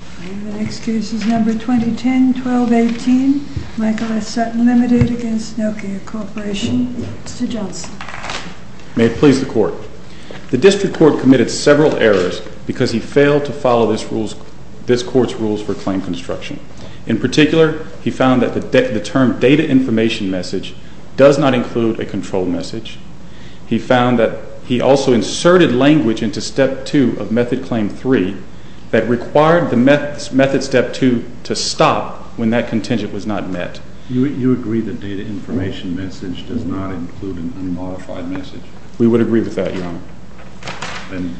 I have an excuse. It's number 2010, 1218 Michael S Sutton Ltd. against Nokia Corporation. Mr. Johnson. May it please the court. The district court committed several errors because he failed to follow this court's rules for claim construction. In particular, he found that the term data information message does not include a control message. He found that he also inserted language into step two of method claim three that required method step two to stop when that contingent was not met. You agree that data information message does not include an unmodified message? We would agree with that, Your Honor. And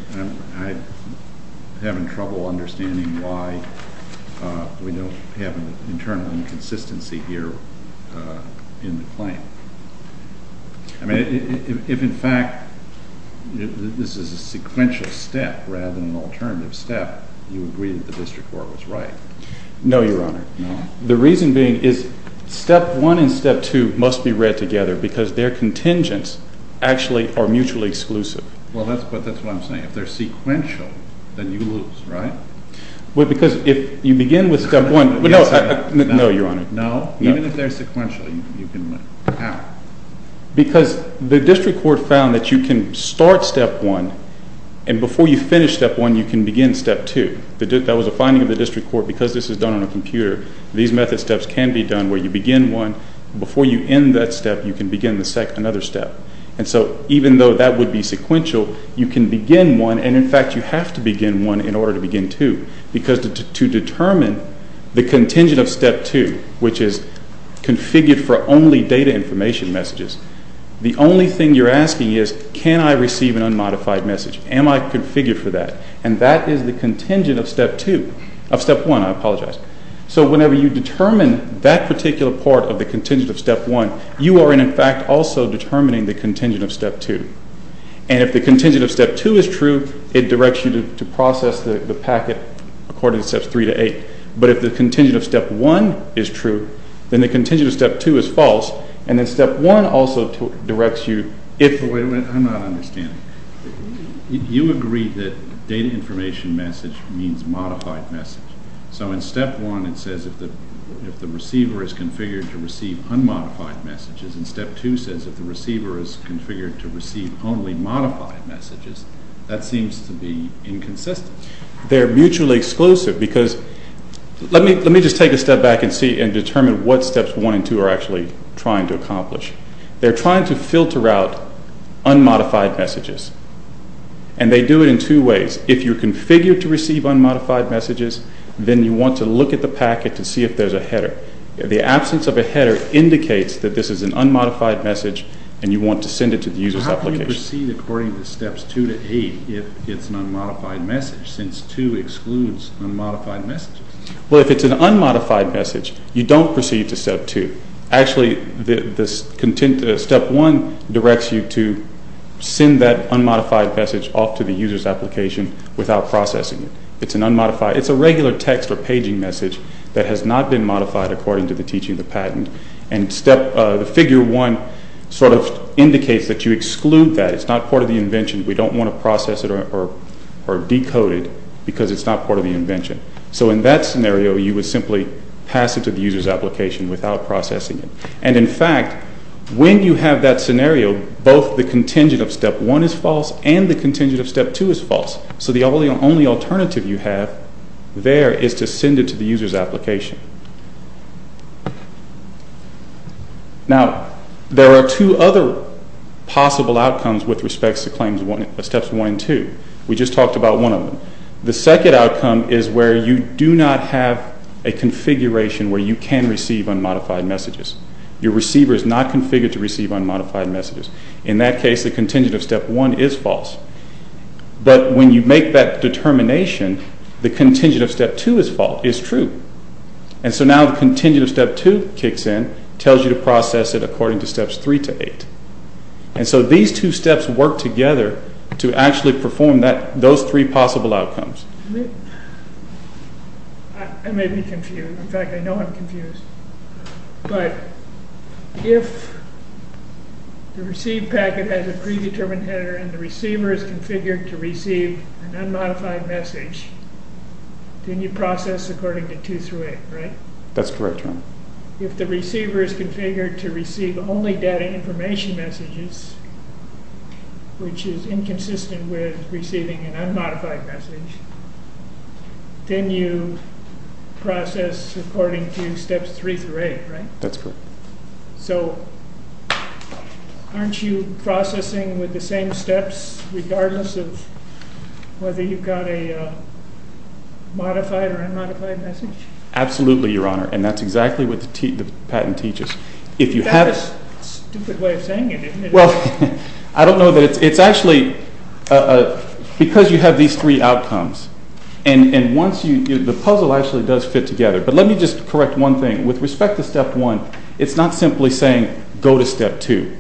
I'm having trouble understanding why we don't have an internal inconsistency here in the claim. I mean, if in fact this is a sequential step rather than an alternative step, you agree that the district court was right? No, Your Honor. The reason being is step one and step two must be read together because their contingents actually are mutually exclusive. Well, that's what I'm saying. If they're sequential, then you lose, right? Well, because if you begin with step one. No, Your Honor. No? Even if they're sequential, you can win. How? Because the district court found that you can start step one and before you finish step one, you can begin step two. That was a finding of the district court because this is done on a computer. These method steps can be done where you begin one. Before you end that step, you can begin another step. And so even though that would be sequential, you can begin one. And in fact, you have to begin one in order to begin two because to determine the contingent of step two, which is configured for only data information messages, the only thing you're asking is, can I receive an unmodified message? Am I configured for that? And that is the contingent of step two, of step one, I apologize. So whenever you determine that particular part of the contingent of step one, you are in fact also determining the contingent of step two. And if the contingent of step two is true, it directs you to process the packet according to steps three to eight. But if the contingent of step one is true, then the contingent of step two is false and then step one also directs you if... I'm not understanding. You agreed that data information message means modified message. So in step one, it says if the receiver is configured to receive unmodified messages, and step two says if the receiver is configured to receive only modified messages, that seems to be inconsistent. They're mutually exclusive because let me just take a step back and see and determine what steps one and two are actually trying to accomplish. They're trying to filter out unmodified messages and they do it in two ways. If you're configured to receive unmodified messages, then you want to look at the packet to see if there's a header. The absence of a header indicates that this is an unmodified message and you want to send it to the user's application. So how can you proceed according to steps two to eight if it's an unmodified message since two excludes unmodified messages? Well, if it's an unmodified message, you don't proceed to step two. Actually, step one directs you to send that unmodified message off to the user's application without processing it. It's an unmodified, it's a regular text or paging message that has not been modified according to the teaching of the patent. And step, the figure one sort of indicates that you exclude that. It's not part of the invention. We don't want to process it or decode it because it's not part of the invention. So in that scenario, you would simply pass it to the user's application without processing it. And in fact, when you have that scenario, both the contingent of step one is false and the contingent of step two is false. So the only alternative you have there is to send it to the user's application. Now, there are two other possible outcomes with respects to steps one and two. We just talked about one of them. The second outcome is where you do not have a configuration where you can receive unmodified messages. Your receiver is not configured to receive unmodified messages. In that case, the contingent of step one is false. But when you make that determination, the contingent of step two is true. And so now the contingent of step two kicks in, tells you to process it according to steps three to eight. And so these two steps work together to actually perform those three possible outcomes. I may be confused. In fact, I know I'm confused. But if the received packet has a predetermined header and the receiver is configured to receive an unmodified message, then you process according to two through eight, right? That's correct, John. If the receiver is configured to receive only data information messages, which is inconsistent with receiving an unmodified message, then you process according to steps three through eight, right? That's correct. So aren't you processing with the same steps regardless of whether you've got a modified or unmodified message? Absolutely, Your Honor. And that's exactly what the patent teaches. If you have- That's a stupid way of saying it, isn't it? Well, I don't know that it's, it's actually because you have these three outcomes. And once you, the puzzle actually does fit together. But let me just correct one thing. With respect to step one, it's not simply saying, go to step two.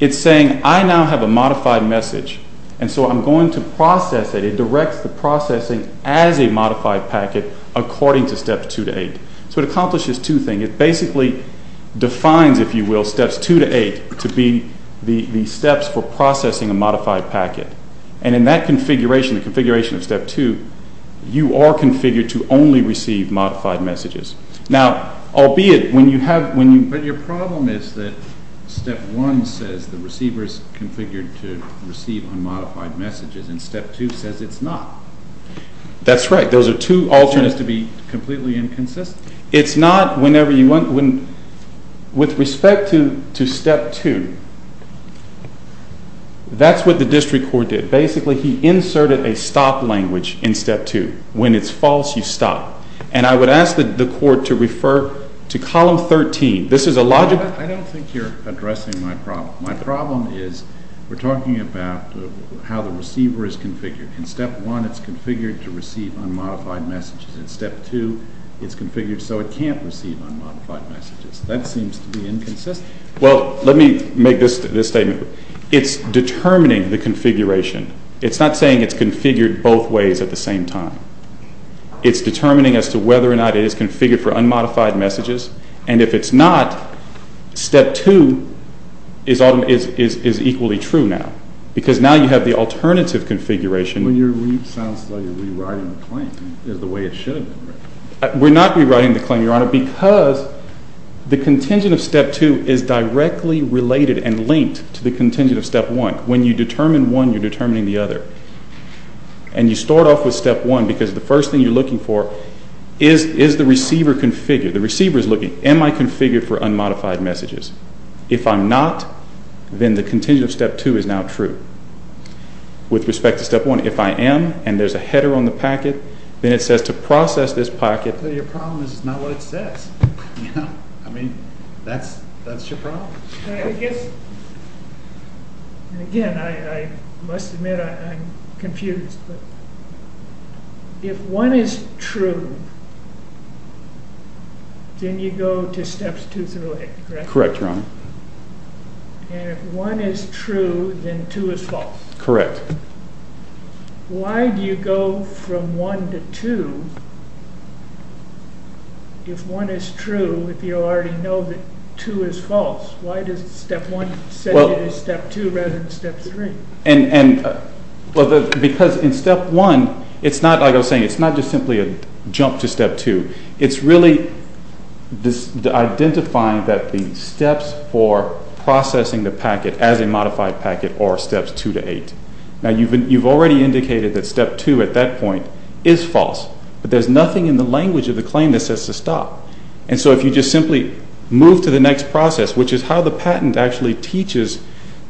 It's saying, I now have a modified message. And so I'm going to process it. It directs the processing as a modified packet according to steps two to eight. So it accomplishes two things. It basically defines, if you will, steps two to eight to be the steps for processing a modified packet. And in that configuration, the configuration of step two, you are configured to only receive modified messages. Now, albeit when you have, when you- But your problem is that step one says the receiver's configured to receive unmodified messages and step two says it's not. That's right. Those are two alternatives- So it has to be completely inconsistent? It's not. Whenever you want, with respect to step two, that's what the district court did. Basically, he inserted a stop language in step two. When it's false, you stop. And I would ask the court to refer to column 13. This is a logical- I don't think you're addressing my problem. My problem is we're talking about how the receiver is configured. In step one, it's configured to receive unmodified messages. In step two, it's configured so it can't receive unmodified messages. That seems to be inconsistent. Well, let me make this statement. It's determining the configuration. It's not saying it's configured both ways at the same time. It's determining as to whether or not it is configured for unmodified messages. And if it's not, step two is equally true now. Because now you have the alternative configuration- When you're re-sounds like you're rewriting the claim, is the way it should have been. We're not rewriting the claim, Your Honor, because the contingent of step two is directly related and linked to the contingent of step one. When you determine one, you're determining the other. And you start off with step one because the first thing you're looking for is the receiver configured. The receiver is looking, am I configured for unmodified messages? If I'm not, then the contingent of step two is now true. With respect to step one, if I am, and there's a header on the packet, then it says to process this packet- But your problem is it's not what it says, you know? I mean, that's your problem. But I guess, and again, I must admit I'm confused, but if one is true, then you go to steps two through eight, correct? Correct, Your Honor. And if one is true, then two is false? Correct. Why do you go from one to two if one is true, if you already know that two is false? Why does step one set you to step two rather than step three? Because in step one, it's not, like I was saying, it's not just simply a jump to step two. It's really identifying that the steps for processing the packet as a modified packet are steps two to eight. Now, you've already indicated that step two at that point is false, but there's nothing in the language of the claim that says to stop. And so if you just simply move to the next process, which is how the patent actually teaches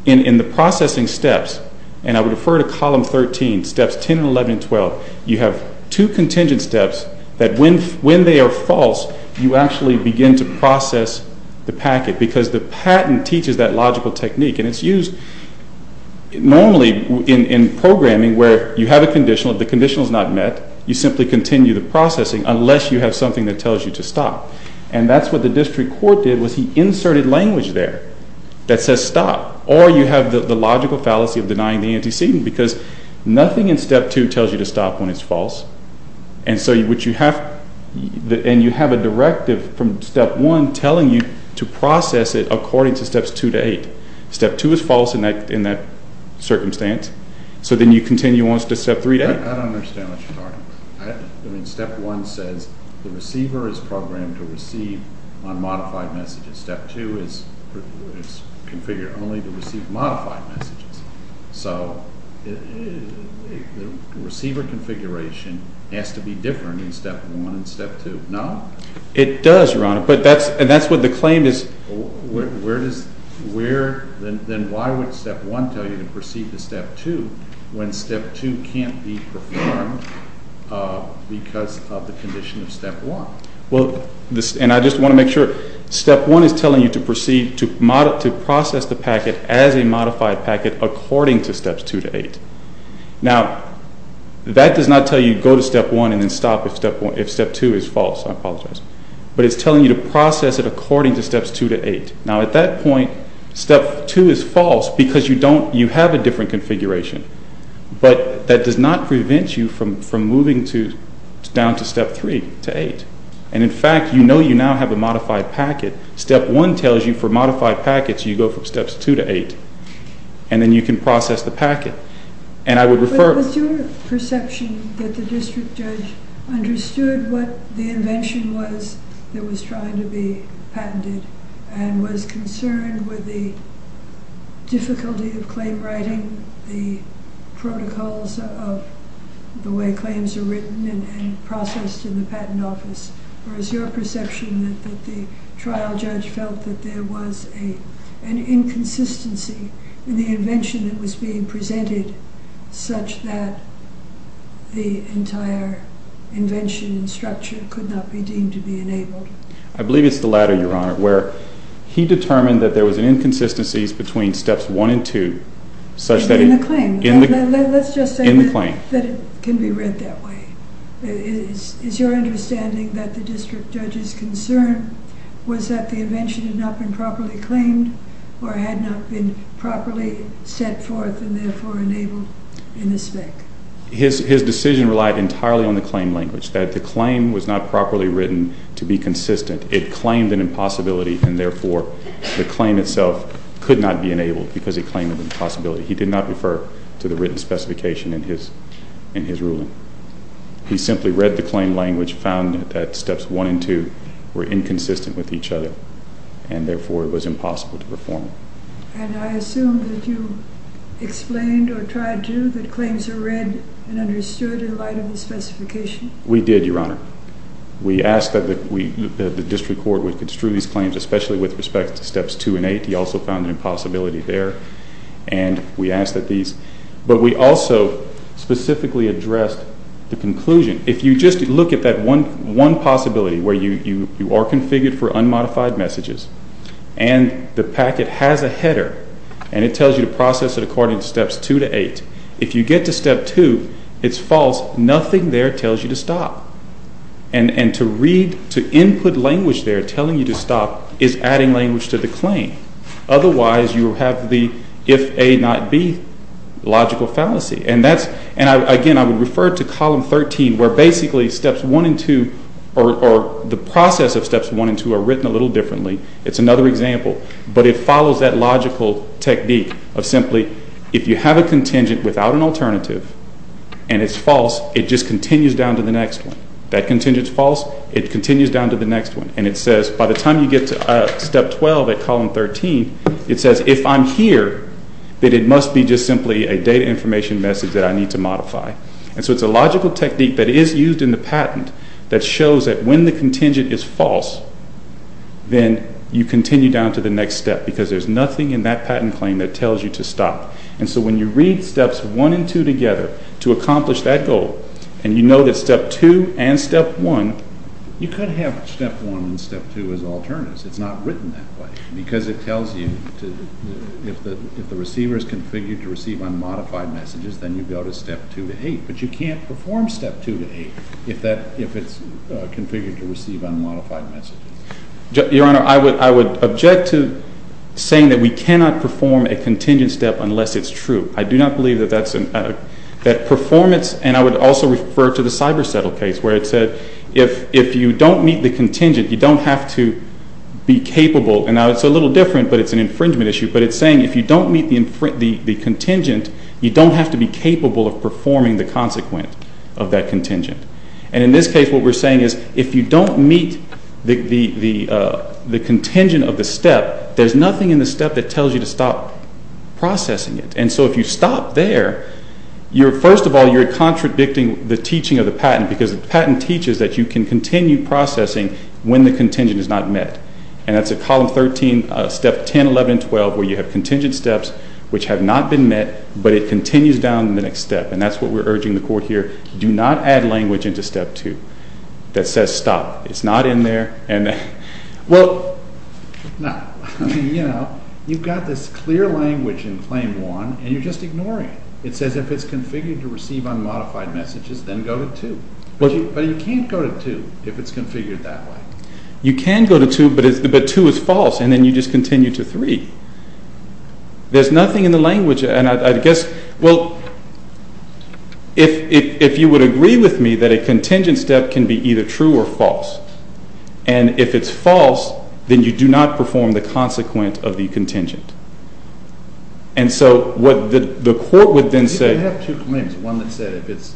in the processing steps, and I would refer to column 13, steps 10 and 11 and 12, you have two contingent steps that when they are false, you actually begin to process the packet because the patent teaches that logical technique. And it's used normally in programming where you have a conditional, the conditional is not met, you simply continue the processing unless you have something that tells you to stop. And that's what the district court did was he inserted language there that says stop, or you have the logical fallacy of denying the antecedent because nothing in step two tells you to stop when it's false. And you have a directive from step one telling you to process it according to steps two to eight, step two is false in that circumstance. So then you continue on to step three to eight. I don't understand what you're talking about. I mean, step one says the receiver is programmed to receive unmodified messages. Step two is configured only to receive modified messages. So the receiver configuration has to be different in step one and step two, no? It does, Your Honor, but that's what the claim is. Where does, where, then why would step one tell you to proceed to step two when step two can't be performed because of the condition of step one? Well, and I just want to make sure, step one is telling you to proceed to process the packet as a modified packet according to steps two to eight. Now, that does not tell you to go to step one and then stop if step two is false, I apologize. But it's telling you to process it from steps two to eight. Now, at that point, step two is false because you don't, you have a different configuration, but that does not prevent you from moving to down to step three to eight. And in fact, you know you now have a modified packet. Step one tells you for modified packets, you go from steps two to eight, and then you can process the packet. And I would refer- Was your perception that the district judge understood what the invention was that was trying to be patented and was concerned with the difficulty of claim writing, the protocols of the way claims are written and processed in the patent office, or is your perception that the trial judge felt that there was an inconsistency in the invention that was being presented such that the entire invention and structure could not be deemed to be enabled? I believe it's the latter, Your Honor, where he determined that there was an inconsistencies between steps one and two, such that- In the claim. In the claim. Let's just say that it can be read that way. Is your understanding that the district judge's concern was that the invention had not been properly claimed or had not been properly set forth and therefore enabled in the spec? His decision relied entirely on the claim language, that the claim was not properly written to be consistent. It claimed an impossibility and therefore the claim itself could not be enabled because it claimed an impossibility. He did not refer to the written specification in his ruling. He simply read the claim language, found that steps one and two were inconsistent with each other and therefore it was impossible to perform. And I assume that you explained or tried to that claims are read and understood in light of the specification? We did, Your Honor. We asked that the district court would construe these claims, especially with respect to steps two and eight. He also found an impossibility there. And we asked that these, but we also specifically addressed the conclusion. If you just look at that one possibility where you are configured for unmodified messages and the packet has a header and it tells you to process it according to steps two to eight if you get to step two, it's false. Nothing there tells you to stop. And to read, to input language there telling you to stop is adding language to the claim. Otherwise, you have the if A not B logical fallacy. And that's, and again, I would refer to column 13 where basically steps one and two or the process of steps one and two are written a little differently. It's another example, but it follows that logical technique of simply if you have a contingent without an alternative and it's false, it just continues down to the next one. That contingent's false, it continues down to the next one. And it says by the time you get to step 12 at column 13, it says if I'm here, that it must be just simply a data information message that I need to modify. And so it's a logical technique that is used in the patent that shows that when the contingent is false, then you continue down to the next step because there's nothing in that patent claim that tells you to stop. And so when you read steps one and two together to accomplish that goal, and you know that step two and step one, you could have step one and step two as alternatives. It's not written that way because it tells you if the receiver is configured to receive unmodified messages, then you go to step two to eight, but you can't perform step two to eight if it's configured to receive unmodified messages. Your Honor, I would object to saying that we cannot perform a contingent step unless it's true. I do not believe that that's an, that performance, and I would also refer to the Cyber Settle case where it said if you don't meet the contingent, you don't have to be capable. And now it's a little different, but it's an infringement issue. But it's saying if you don't meet the contingent, you don't have to be capable of performing the consequent of that contingent. And in this case, what we're saying is if you don't meet the contingent of the step, there's nothing in the step that tells you to stop processing it. And so if you stop there, you're, first of all, you're contradicting the teaching of the patent because the patent teaches that you can continue processing when the contingent is not met. And that's a column 13, step 10, 11, and 12, where you have contingent steps which have not been met, but it continues down the next step. And that's what we're urging the Court here. Do not add language into step two that says stop. It's not in there. And, well, no, I mean, you know, you've got this clear language in claim one, and you're just ignoring it. It says if it's configured to receive unmodified messages, then go to two. But you can't go to two if it's configured that way. You can go to two, but two is false, and then you just continue to three. There's nothing in the language, and I guess, well, if you would agree with me that a contingent step can be either true or false, and if it's false, then you do not perform the consequent of the contingent. And so what the Court would then say... You can have two claims, one that said if it's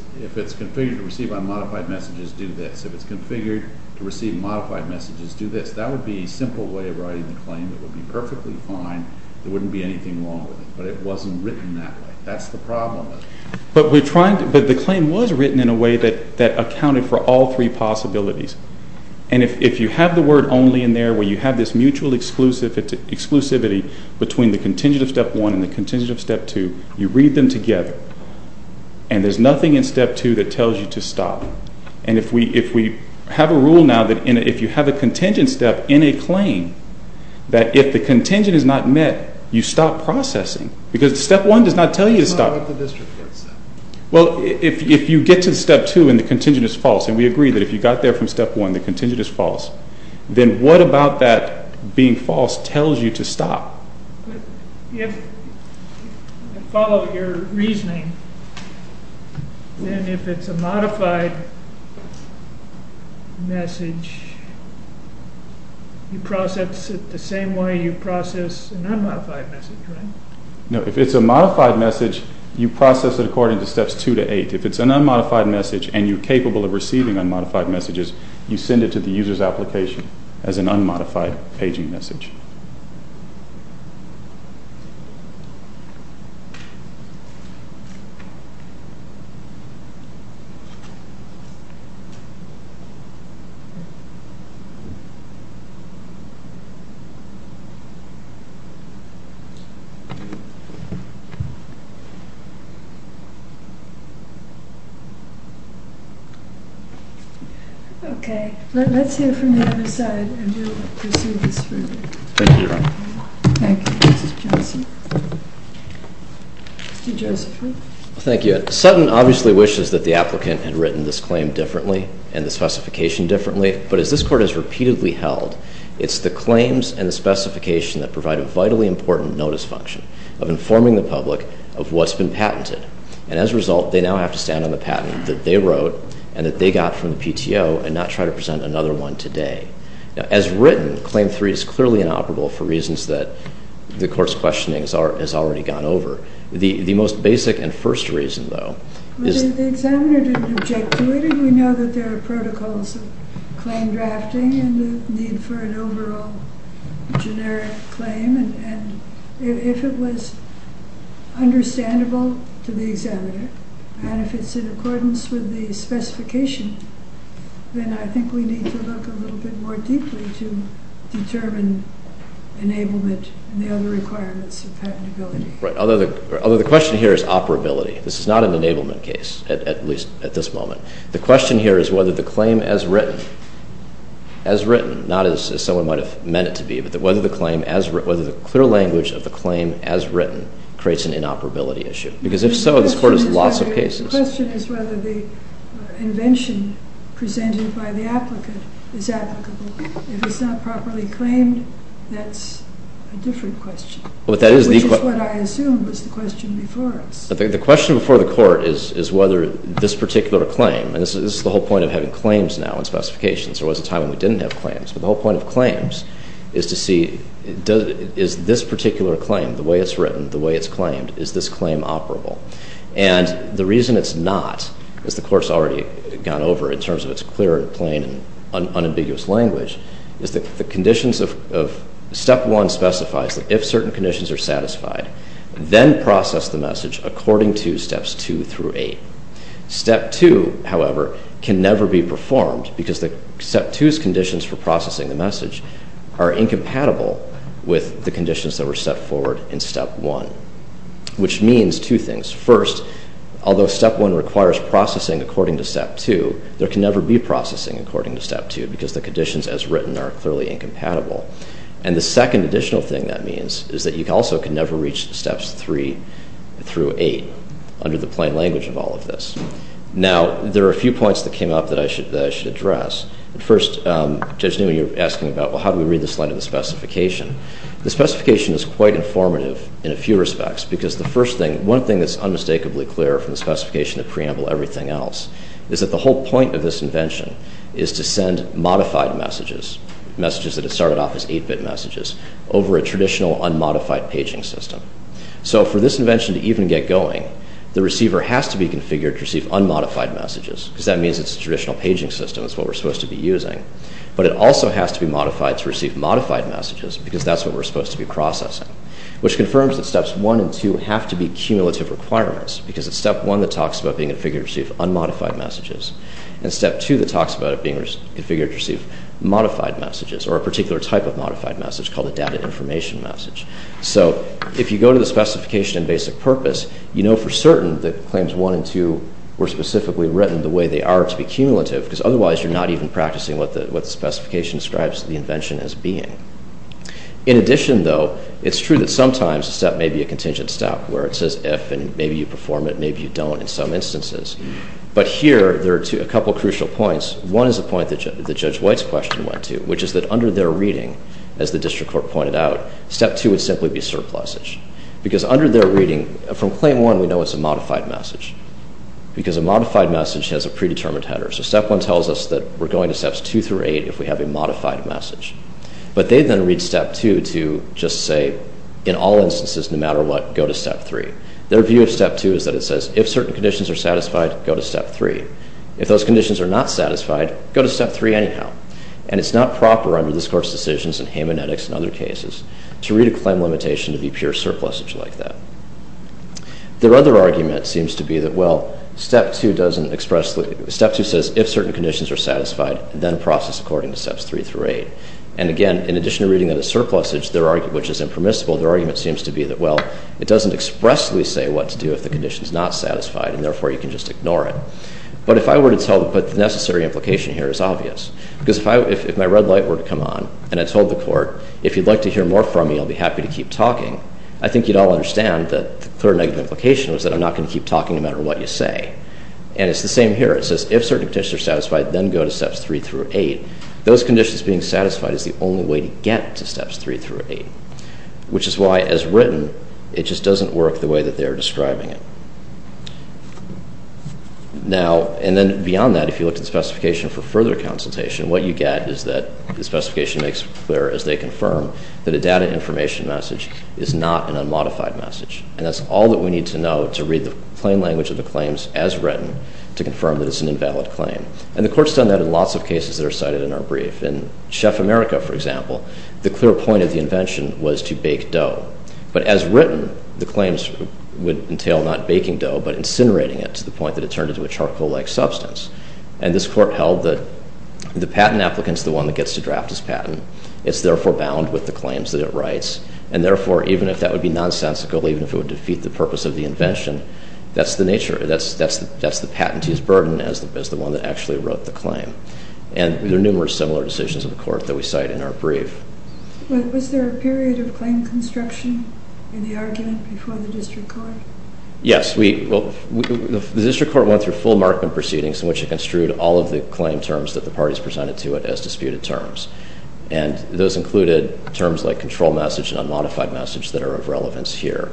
configured to receive unmodified messages, do this. If it's configured to receive modified messages, do this. That would be a simple way of writing the claim. It would be perfectly fine. There wouldn't be anything wrong with it, but it wasn't written that way. That's the problem. But we're trying to... But the claim was written in a way that accounted for all three possibilities, and if you have the word only in there where you have this mutual exclusivity between the contingent of step one and the contingent of step two, you read them together, and there's nothing in step two that tells you to stop. And if we have a rule now that if you have a contingent step in a claim that if the contingent is not met, you stop processing, because step one does not tell you to stop. What about the district court step? Well, if you get to step two and the contingent is false, and we agree that if you got there from step one, the contingent is false, then what about that being false tells you to stop? If I follow your reasoning, then if it's a modified message, you process it the same way you process a non-modified message, right? No, if it's a modified message, you process it according to steps two to eight. If it's an unmodified message and you're capable of receiving unmodified messages, you send it to the user's application as an unmodified paging message. Okay, let's hear from the other side and do a little bit of proceedings for you. Thank you, Your Honor. Thank you, Mr. Johnson. Mr. Josephry. Thank you. Sutton obviously wishes that the applicant had written this claim differently and the specification differently, but as this court has repeatedly held, I think that's what we're trying to do. I think that's what we're trying to do. It's a way of informing the public of what's been patented, and as a result, they now have to stand on the patent that they wrote and that they got from the PTO and not try to present another one today. As written, Claim 3 is clearly inoperable for reasons that the court's questioning has already gone over. The most basic and first reason, though, is... They examined it and objected to it, and we know that there are protocols with claim drafting and the need for an overall generic claim, and if it was understandable to the examiner, and if it's in accordance with the specification, then I think we need to look a little bit more deeply to determine enablement and the other requirements of patentability. Right. Although the question here is operability. This is not an enablement case, at least at this moment. The question here is whether the claim as written... As written, not as someone might have meant it to be, but whether the clear language of the claim as written creates an inoperability issue. Because if so, this court has lots of cases. The question is whether the invention presented by the applicant is applicable. If it's not properly claimed, that's a different question. But that is the... Which is what I assumed was the question before us. The question before the court is whether this particular claim... And this is the whole point of having claims now and specifications. There was a time when we didn't have claims. But the whole point of claims is to see is this particular claim, the way it's written, the way it's claimed, is this claim operable? And the reason it's not, as the Court's already gone over in terms of its clear and plain and unambiguous language, is that the conditions of... Step 1 specifies that if certain conditions are satisfied, then process the message according to Steps 2 through 8. Step 2, however, can never be performed because Step 2's conditions for processing the message are incompatible with the conditions that were set forward in Step 1. Which means two things. First, although Step 1 requires processing according to Step 2, there can never be processing according to Step 2 because the conditions as written are clearly incompatible. And the second additional thing that means is that you also can never reach Steps 3 through 8 under the plain language of all of this. Now, there are a few points that came up that I should address. First, Judge Newman, you were asking about, well, how do we read the slide of the specification? The specification is quite informative in a few respects because the first thing, one thing that's unmistakably clear from the specification of preamble and everything else is that the whole point of this invention is to send modified messages, messages that have started off as 8-bit messages, over a traditional unmodified paging system. So for this invention to even get going, the receiver has to be configured to receive unmodified messages because that means it's a traditional paging system, it's what we're supposed to be using. But it also has to be modified to receive modified messages because that's what we're supposed to be processing, which confirms that Steps 1 and 2 have to be cumulative requirements because it's Step 1 that talks about being configured to receive unmodified messages, and Step 2 that talks about it being configured to receive modified messages, or a particular type of modified message called a data information message. So if you go to the specification in basic purpose, you know for certain that Claims 1 and 2 were specifically written the way they are to be cumulative because otherwise you're not even practicing what the specification describes the invention as being. In addition though, it's true that sometimes a step may be a contingent step where it says if and maybe you perform it, maybe you don't in some instances. But here there are a couple of crucial points. One is the point that Judge White's question went to, which is that under their reading, as the District Court pointed out, Step 2 would simply be surplusage. Because under their reading, from Claim 1 we know it's a modified message. Because a modified message has a predetermined header. So Step 1 tells us that we're going to Steps 2 through 8 if we have a modified message. But they then read Step 2 to just say, in all instances, no matter what, go to Step 3. Their view of Step 2 is that it says if certain conditions are satisfied, go to Step 3. If those conditions are not satisfied, go to Step 3 anyhow. And it's not proper under this Court's decisions and hamanetics and other cases to read a claim limitation to be pure surplusage like that. Their other argument seems to be that, well, Step 2 doesn't expressly... Step 2 says if certain conditions are satisfied, then process according to Steps 3 through 8. And again, in addition to reading that as surplusage, which is impermissible, their argument seems to be that, well, it doesn't expressly say what to do if the condition's not satisfied, and therefore you can just ignore it. But if I were to tell... But the necessary implication here is obvious. Because if my red light were to come on and I told the Court, if you'd like to hear more from me, I'll be happy to keep talking, I think you'd all understand that the clear negative implication was that I'm not going to keep talking no matter what you say. And it's the same here. It says if certain conditions are satisfied, then go to Steps 3 through 8. Those conditions being satisfied is the only way to get to Steps 3 through 8. Which is why, as written, it just doesn't work the way that they're describing it. Now... And then beyond that, if you look at the specification for further consultation, what you get is that the specification makes clear, as they confirm, that a data information message is not an unmodified message. And that's all that we need to know to read the plain language of the claims, as written, to confirm that it's an invalid claim. And the Court's done that in lots of cases that are cited in our brief. In Chef America, for example, the clear point of the invention was to bake dough. But as written, the claims would entail not baking dough, but incinerating it to the point that it turned into a charcoal-like substance. And this Court held that the patent applicant's the one that gets to draft this patent. It's therefore bound with the claims that it writes. And therefore, even if that would be nonsensical, even if it would defeat the purpose of the invention, that's the nature. That's the patentee's burden as the one that actually wrote the claim. And there are numerous similar decisions in the Court that we cite in our brief. Was there a period of claim construction in the argument before the District Court? Yes. The District Court went through full-markment proceedings in which it construed all of the claim terms that the parties presented to it as disputed terms. And those included terms like control message and unmodified message that are of relevance here.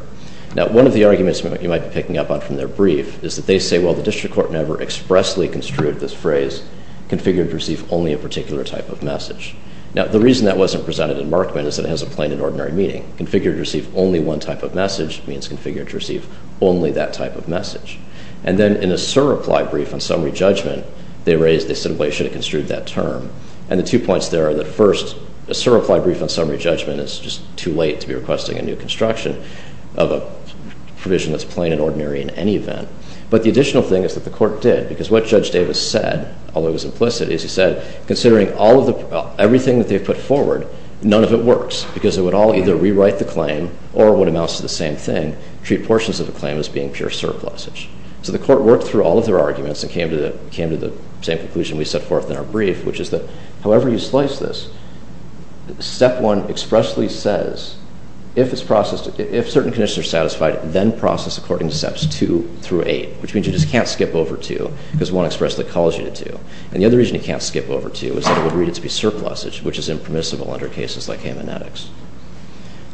Now, one of the arguments that you might be picking up on from their brief is that they say, well, the District Court never expressly construed this phrase configured to receive only a particular type of message. Now, the reason that wasn't presented in markment is that it has a plain and ordinary meaning. Configured to receive only one type of message means configured to receive only that type of message. And then in a sur-reply brief on summary judgment, they raised, they said, well, you should have construed that term. And the two points there are that, first, a sur-reply brief on summary judgment is just too late to be requesting a new construction of a provision that's plain and ordinary in any event. But the additional thing is that the court did, because what Judge Davis said, although it was implicit, is he said, considering everything that they've put forward, none of it works, because it would all either rewrite the claim or, what amounts to the same thing, treat portions of the claim as being pure surplusage. So the court worked through all of their arguments and came to the same conclusion we set forth in our brief, which is that, however you slice this, step one expressly says, if it's processed, if certain conditions are satisfied, then process according to steps two through eight, which means you just can't skip over two, because one expressly calls you to two. And the other reason you can't skip over two is that it would read it to be surplusage, which is impermissible under cases like Hamanetics.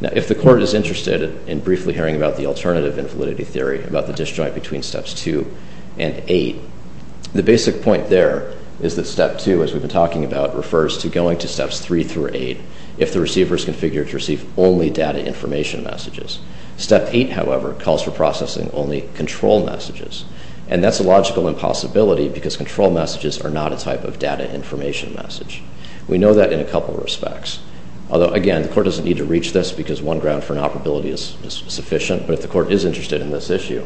Now, if the court is interested in briefly hearing about the alternative invalidity theory, about the disjoint between steps two and eight, the basic point there is that step two, as we've been talking about, refers to going to steps three through eight if the receiver is configured to receive only data information messages. Step eight, however, calls for processing only control messages. And that's a logical impossibility, because control messages are not a type of data information message. We know that in a couple of respects. Although, again, the court doesn't need to reach this because one ground for inoperability is sufficient, but if the court is interested in this issue,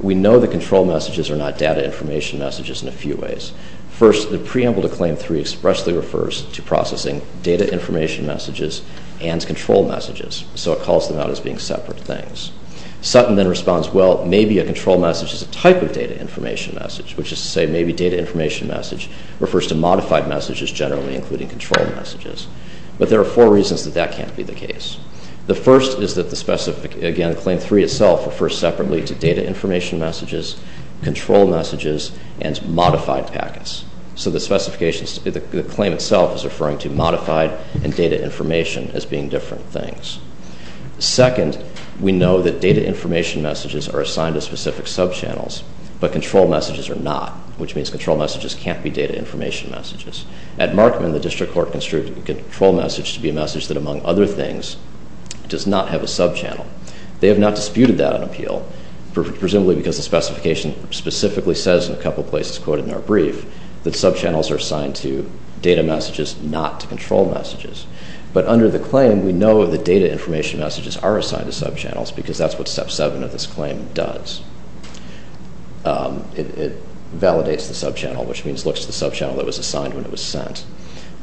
we know that control messages are not data information messages in a few ways. First, the preamble to claim three expressly refers to processing data information messages and control messages, so it calls them out as being separate things. Sutton then responds, well, maybe a control message is a type of data information message, which is to say maybe data information message refers to modified messages generally, including control messages. But there are four reasons that that can't be the case. The first is that the specific, again, claim three itself refers separately to data information messages, control messages, and modified packets. So the specification, the claim itself is referring to modified and data information as being different things. Second, we know that data information messages are assigned to specific subchannels, but control messages are not, which means control messages can't be data information messages. At Markman, the district court construed a control message to be a message that, among other things, does not have a subchannel. They have not disputed that on appeal, presumably because the specification specifically says in a couple places, quoted in our brief, that subchannels are assigned to data messages, not to control messages. But under the claim, we know that data information messages are assigned to subchannels because that's what step seven of this claim does. It validates the subchannel, which means looks to the subchannel that was assigned when it was sent.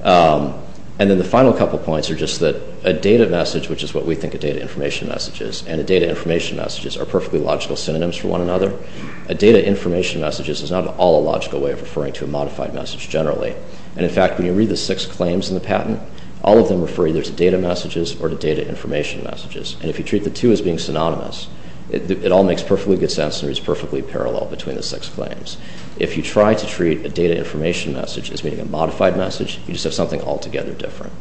And then the final couple points are just that a data message, which is what we think a data information message is, and a data information message are perfectly logical synonyms for one another. A data information message is not at all a logical way of referring to a modified message generally. And in fact, when you read the six claims in the patent, all of them refer either to data messages or to data information messages. And if you treat the two as being synonymous, it all makes perfectly good sense and is perfectly parallel between the six claims. If you try to treat a data information message as being a modified message, you just have something altogether different.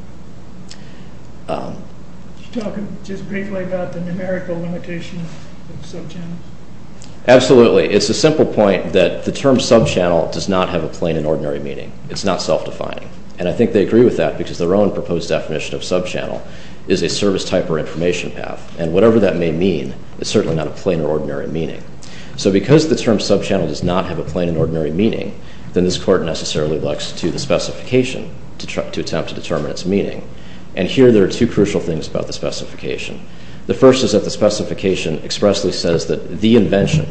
You're talking just briefly about the numerical limitation of subchannels? Absolutely. It's a simple point that the term subchannel does not have a plain and ordinary meaning. It's not self-defined. And I think they agree with that because their own proposed definition of subchannel is a service type or information path. And whatever that may mean is certainly not a plain or ordinary meaning. So because the term subchannel does not have a plain and ordinary meaning, then this Court necessarily looks to the specification to attempt to determine its meaning. And here there are two crucial things about the specification. The first is that the specification expressly says that the invention,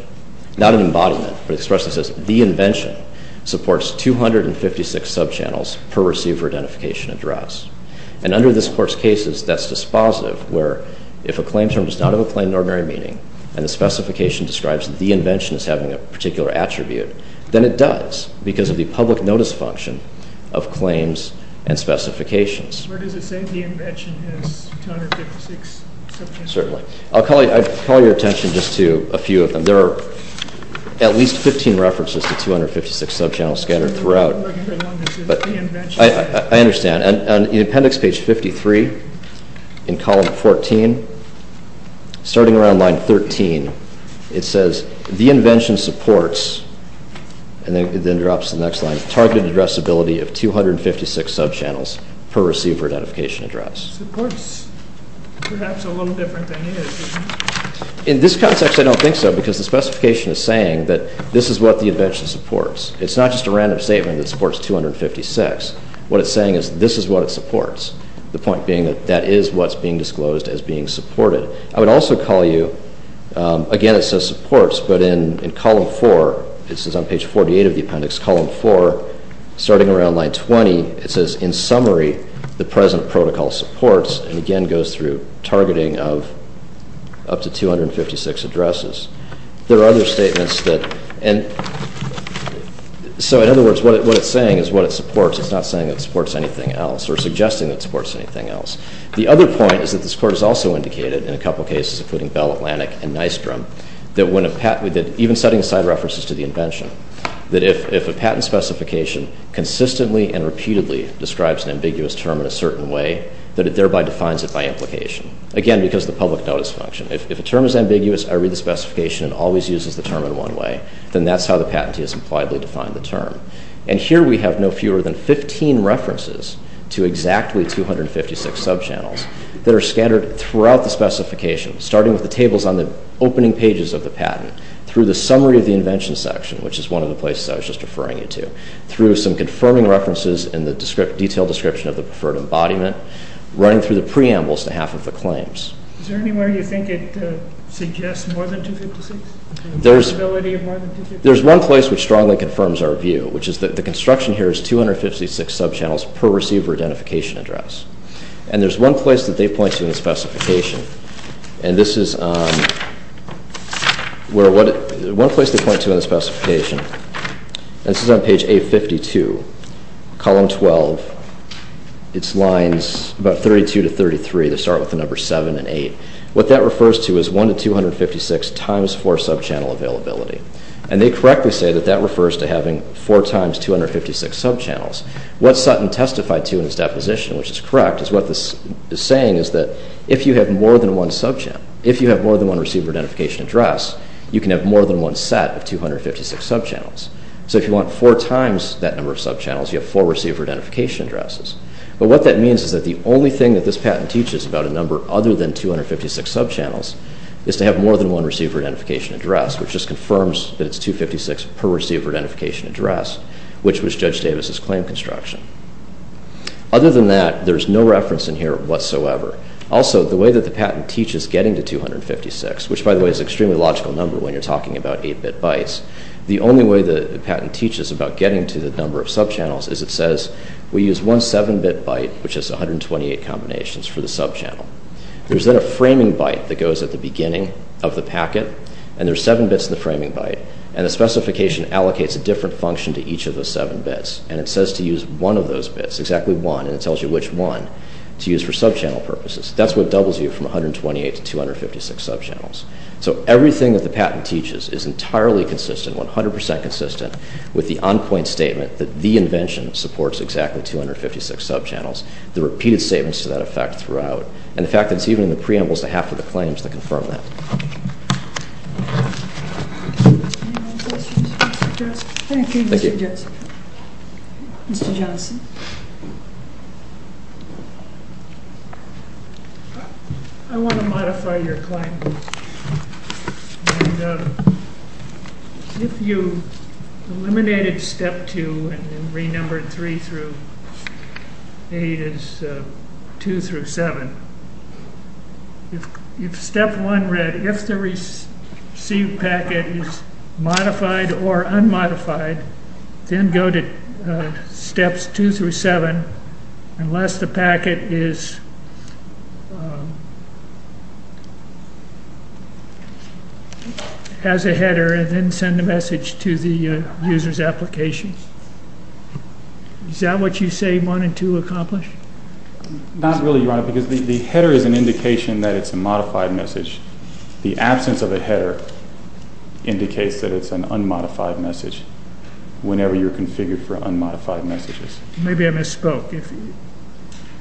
not an embodiment, but it expressly says the invention supports 256 subchannels per receiver identification address. And under this Court's cases, that's dispositive where if a claim term does not have a plain and ordinary meaning and the specification describes that the invention is having a particular attribute, then it does because of the public notice function of claims and specifications. Or does it say the invention has 256 subchannels? Certainly. I'll call your attention just to a few of them. There are at least 15 references to 256 subchannels scattered throughout. But I understand. On appendix page 53 in column 14, starting around line 13, it says the invention supports, and then it drops to the next line, targeted addressability of 256 subchannels per receiver identification address. Supports. Perhaps a little different than is. In this context, I don't think so because the specification is saying that this is what the invention supports. It's not just a random statement that supports 256. What it's saying is this is what it supports. The point being that that is what's being disclosed as being supported. I would also call you, again it says supports, but in column 4, this is on page 48 of the appendix, column 4, starting around line 20, it says in summary the present protocol supports and again goes through targeting of up to 256 addresses. There are other statements that, and so in other words, what it's saying is what it supports. It's not saying it supports anything else or suggesting it supports anything else. The other point is that this Court has also indicated in a couple of cases, including Bell Atlantic and Nystrom, that even setting aside references to the invention, that if a patent specification consistently and repeatedly describes an ambiguous term in a certain way, that it thereby defines it by implication. Again, because of the public notice function. If a term is ambiguous, I read the specification and it always uses the term in one way, then that's how the patentee has impliedly defined the term. And here we have no fewer than 15 references to exactly 256 subchannels that are scattered throughout the specification, starting with the tables on the opening pages of the patent, through the summary of the invention section, which is one of the places I was just referring you to, through some confirming references in the detailed description of the preferred embodiment, running through the preambles to half of the claims. Is there anywhere you think it suggests more than 256? The possibility of more than 256? There's one place which strongly confirms our view, which is that the construction here is 256 subchannels per receiver identification address. And there's one place that they point to in the specification, and this is where... One place they point to in the specification, and this is on page 852, column 12. It's lines about 32 to 33, they start with the number 7 and 8. What that refers to is 1 to 256 times 4 subchannel availability. And they correctly say that that refers to having 4 times 256 subchannels. What Sutton testified to in his deposition, which is correct, is what this is saying is that if you have more than one subchannel, if you have more than one receiver identification address, you can have more than one set of 256 subchannels. So if you want 4 times that number of subchannels, you have 4 receiver identification addresses. But what that means is that the only thing that this patent teaches about a number other than 256 subchannels is to have more than one receiver identification address, which just confirms that it's 256 per receiver identification address, which was Judge Davis's claim construction. Other than that, there's no reference in here whatsoever. Also, the way that the patent teaches getting to 256, which, by the way, is an extremely logical number when you're talking about 8-bit bytes, the only way that the patent teaches about getting to the number of subchannels is it says, we use one 7-bit byte, which is 128 combinations, for the subchannel. There's then a framing byte that goes at the beginning of the packet, and there's 7 bits in the framing byte, and the specification allocates a different function to each of those 7 bits. And it says to use one of those bits, exactly one, and it tells you which one to use for subchannel purposes. That's what doubles you from 128 to 256 subchannels. So everything that the patent teaches is entirely consistent, 100% consistent, with the on-point statement that the invention supports exactly 256 subchannels, the repeated statements to that effect throughout, and the fact that it's even in the preambles to half of the claims that confirm that. Thank you, Mr. Joseph. Mr. Johnson. I want to modify your claim. If you eliminated Step 2 and re-numbered 3 through 8 as 2 through 7, if Step 1 read, if the received packet is modified or unmodified, then go to Steps 2 through 7, unless the packet is... has a header, and then send the message to the user's application. Is that what you say 1 and 2 accomplish? Not really, Your Honor, because the header is an indication that it's a modified message. The absence of a header indicates that it's an unmodified message whenever you're configured for unmodified messages. Maybe I misspoke.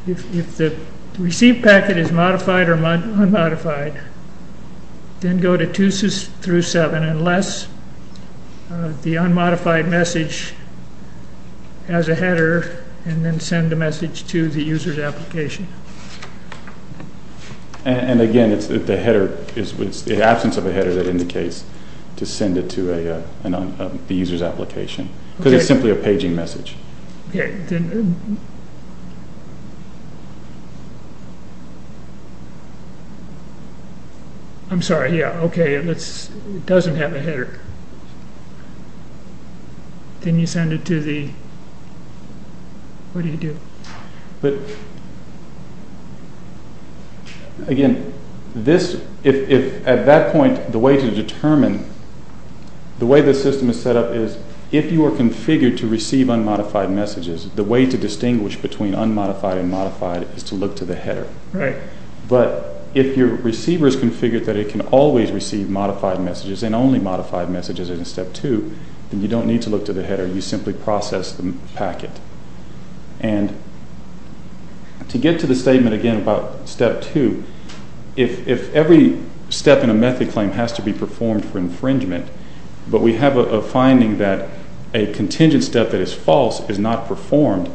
If the received packet is modified or unmodified, then go to 2 through 7, unless the unmodified message has a header and then send a message to the user's application. And again, it's the absence of a header that indicates to send it to the user's application, because it's simply a paging message. Okay, then... I'm sorry, yeah, okay. It doesn't have a header. Then you send it to the... What do you do? But... Again, this... At that point, the way to determine... the way the system is set up is that if you are configured to receive unmodified messages, the way to distinguish between unmodified and modified is to look to the header. But if your receiver is configured that it can always receive modified messages and only modified messages in Step 2, then you don't need to look to the header. You simply process the packet. And to get to the statement again about Step 2, if every step in a method claim has to be performed for infringement, but we have a finding that a contingent step that is false is not performed,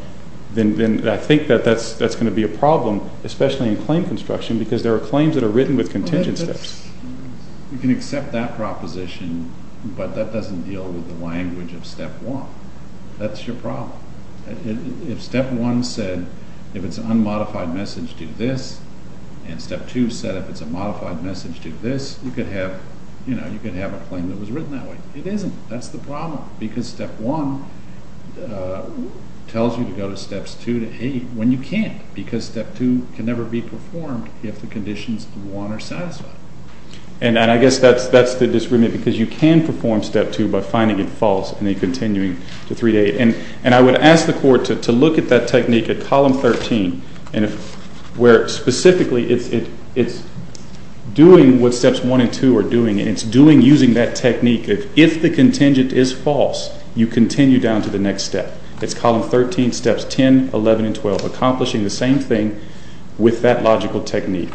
then I think that that's going to be a problem, especially in claim construction, because there are claims that are written with contingent steps. You can accept that proposition, but that doesn't deal with the language of Step 1. That's your problem. If Step 1 said, if it's an unmodified message, do this, and Step 2 said if it's a modified message, do this, you could have a claim that was written that way. It isn't. That's the problem, because Step 1 tells you to go to Steps 2 to 8 when you can't, because Step 2 can never be performed if the conditions you want are satisfied. And I guess that's the disagreement, because you can perform Step 2 by finding it false and then continuing to 3 to 8. And I would ask the Court to look at that technique at Column 13, where specifically it's doing what Steps 1 and 2 are doing, and it's doing using that technique. If the contingent is false, you continue down to the next step. It's Column 13, Steps 10, 11, and 12, accomplishing the same thing with that logical technique.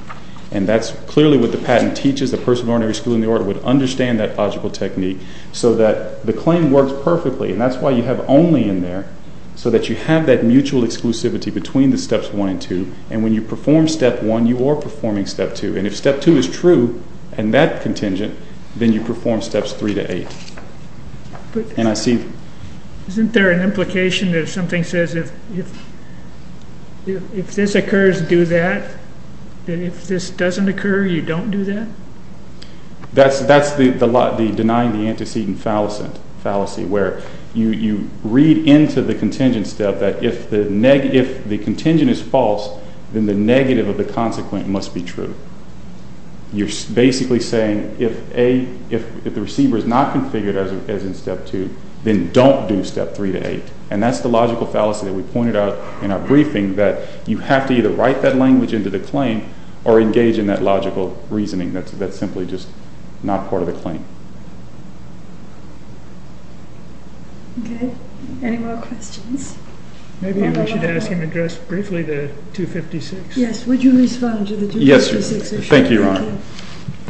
And that's clearly what the patent teaches. The person of ordinary school in the order would understand that logical technique so that the claim works perfectly, and that's why you have only in there, so that you have that mutual exclusivity between the Steps 1 and 2, and when you perform Step 1, you are performing Step 2. And if Step 2 is true, and that contingent, then you perform Steps 3 to 8. And I see... Isn't there an implication that if something says, if this occurs, do that, and if this doesn't occur, you don't do that? That's the denying the antecedent fallacy, where you read into the contingent step that if the contingent is false, then the negative of the consequent must be true. You're basically saying, if the receiver is not configured as in Step 2, then don't do Step 3 to 8. And that's the logical fallacy that we pointed out in our briefing, that you have to either write that language into the claim, or engage in that logical reasoning that's simply just not part of the claim. Okay. Any more questions? Maybe we should ask him to address briefly the 256. Yes, would you respond to the 256 issue? Thank you, Your Honor.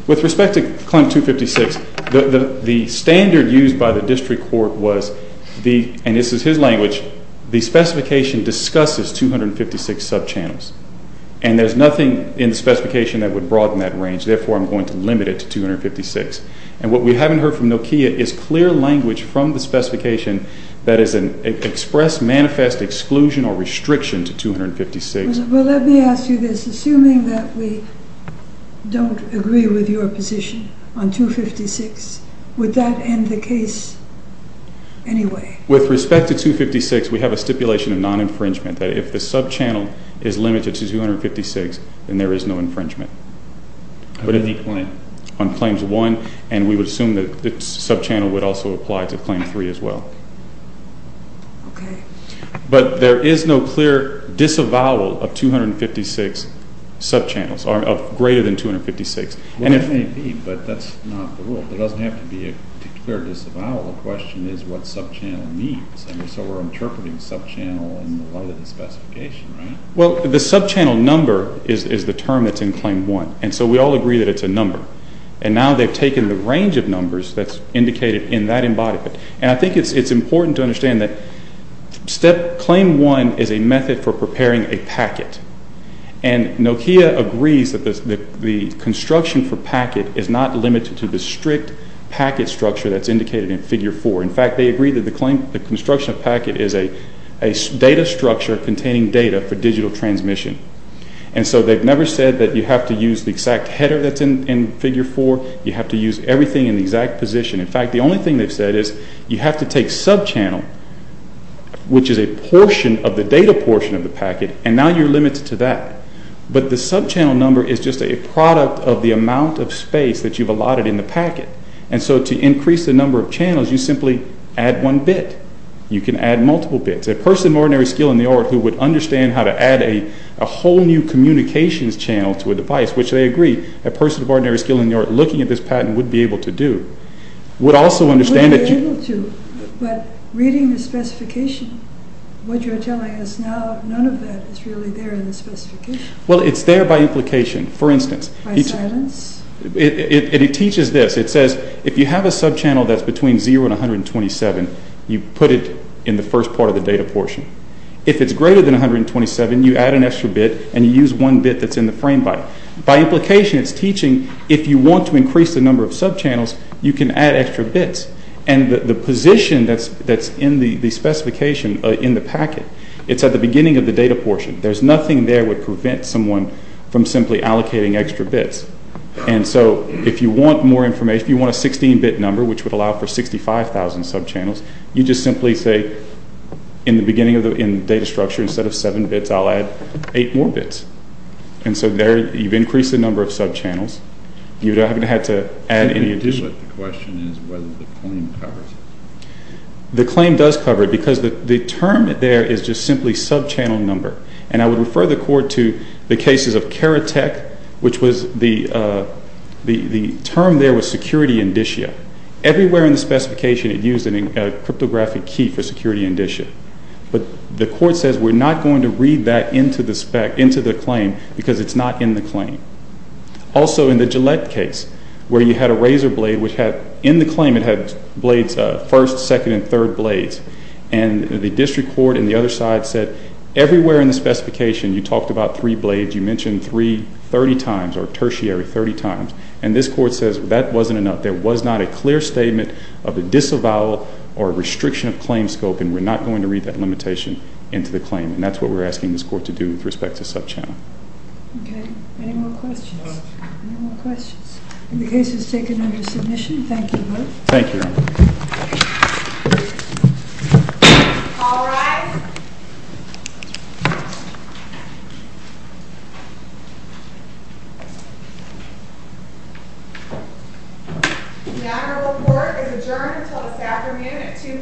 With respect to Client 256, the standard used by the district court was, and this is his language, the specification discusses 256 subchannels. And there's nothing in the specification that would broaden that range, therefore I'm going to limit it to 256. And what we haven't heard from Nokia is clear language from the specification that is an express, manifest, exclusion, or restriction to 256. Well, let me ask you this. Assuming that we don't agree with your position on 256, would that end the case anyway? With respect to 256, we have a stipulation of non-infringement, that if the subchannel is limited to 256, then there is no infringement. On Claims 1? And we would assume that the subchannel would also apply to Claim 3 as well. Okay. But there is no clear disavowal of 256 subchannels, or greater than 256. Well, there may be, but that's not the rule. There doesn't have to be a clear disavowal. The question is what subchannel means. And so we're interpreting subchannel in the light of the specification, right? Well, the subchannel number is the term that's in Claim 1. And so we all agree that it's a number. And now they've taken the range of numbers that's indicated in that embodiment. And I think it's important to understand that Claim 1 is a method for preparing a packet. And Nokia agrees that the construction for packet is not limited to the strict packet structure that's indicated in Figure 4. In fact, they agree that the construction of packet is a data structure containing data for digital transmission. And so they've never said that you have to use the exact header that's in Figure 4. You have to use everything in the exact position. In fact, the only thing they've said is you have to take subchannel, which is a portion of the data portion of the packet, and now you're limited to that. But the subchannel number is just a product of the amount of space that you've allotted in the packet. And so to increase the number of channels, you simply add one bit. You can add multiple bits. A person of ordinary skill in the art who would understand how to add a whole new communications channel to a device, which they agree a person of ordinary skill in the art looking at this patent would be able to do, would also understand that you... Would be able to, but reading the specification, what you're telling us now, none of that is really there in the specification. Well, it's there by implication. For instance... By silence? It teaches this. It says if you have a subchannel that's between 0 and 127, you put it in the first part of the data portion. If it's greater than 127, you add an extra bit, and you use one bit that's in the frame byte. By implication, it's teaching if you want to increase the number of subchannels, you can add extra bits. And the position that's in the specification in the packet, it's at the beginning of the data portion. There's nothing there that would prevent someone from simply allocating extra bits. And so if you want more information, if you want a 16-bit number, which would allow for 65,000 subchannels, you just simply say in the beginning of the data structure, instead of 7 bits, I'll add 8 more bits. And so there, you've increased the number of subchannels. You haven't had to add any addition. The question is whether the claim covers it. The claim does cover it, because the term there is just simply subchannel number. And I would refer the court to the cases of Karatek, which was the term there was security indicia. Everywhere in the specification it used a cryptographic key for security indicia. But the court says we're not going to read that into the claim, because it's not in the claim. Also in the Gillette case, where you had a razor blade, which in the claim it had blades, first, second, and third blades, and the district court on the other side said everywhere in the specification you talked about three blades. You mentioned three 30 times or tertiary 30 times. And this court says that wasn't enough. There was not a clear statement of a disavowal or restriction of claim scope, and we're not going to read that limitation into the claim. And that's what we're asking this court to do with respect to subchannel. Okay. Any more questions? Any more questions? Then the case is taken under submission. Thank you both. Thank you, Your Honor. All rise. The matter of the court is adjourned until this afternoon at 2 p.m. Let's go.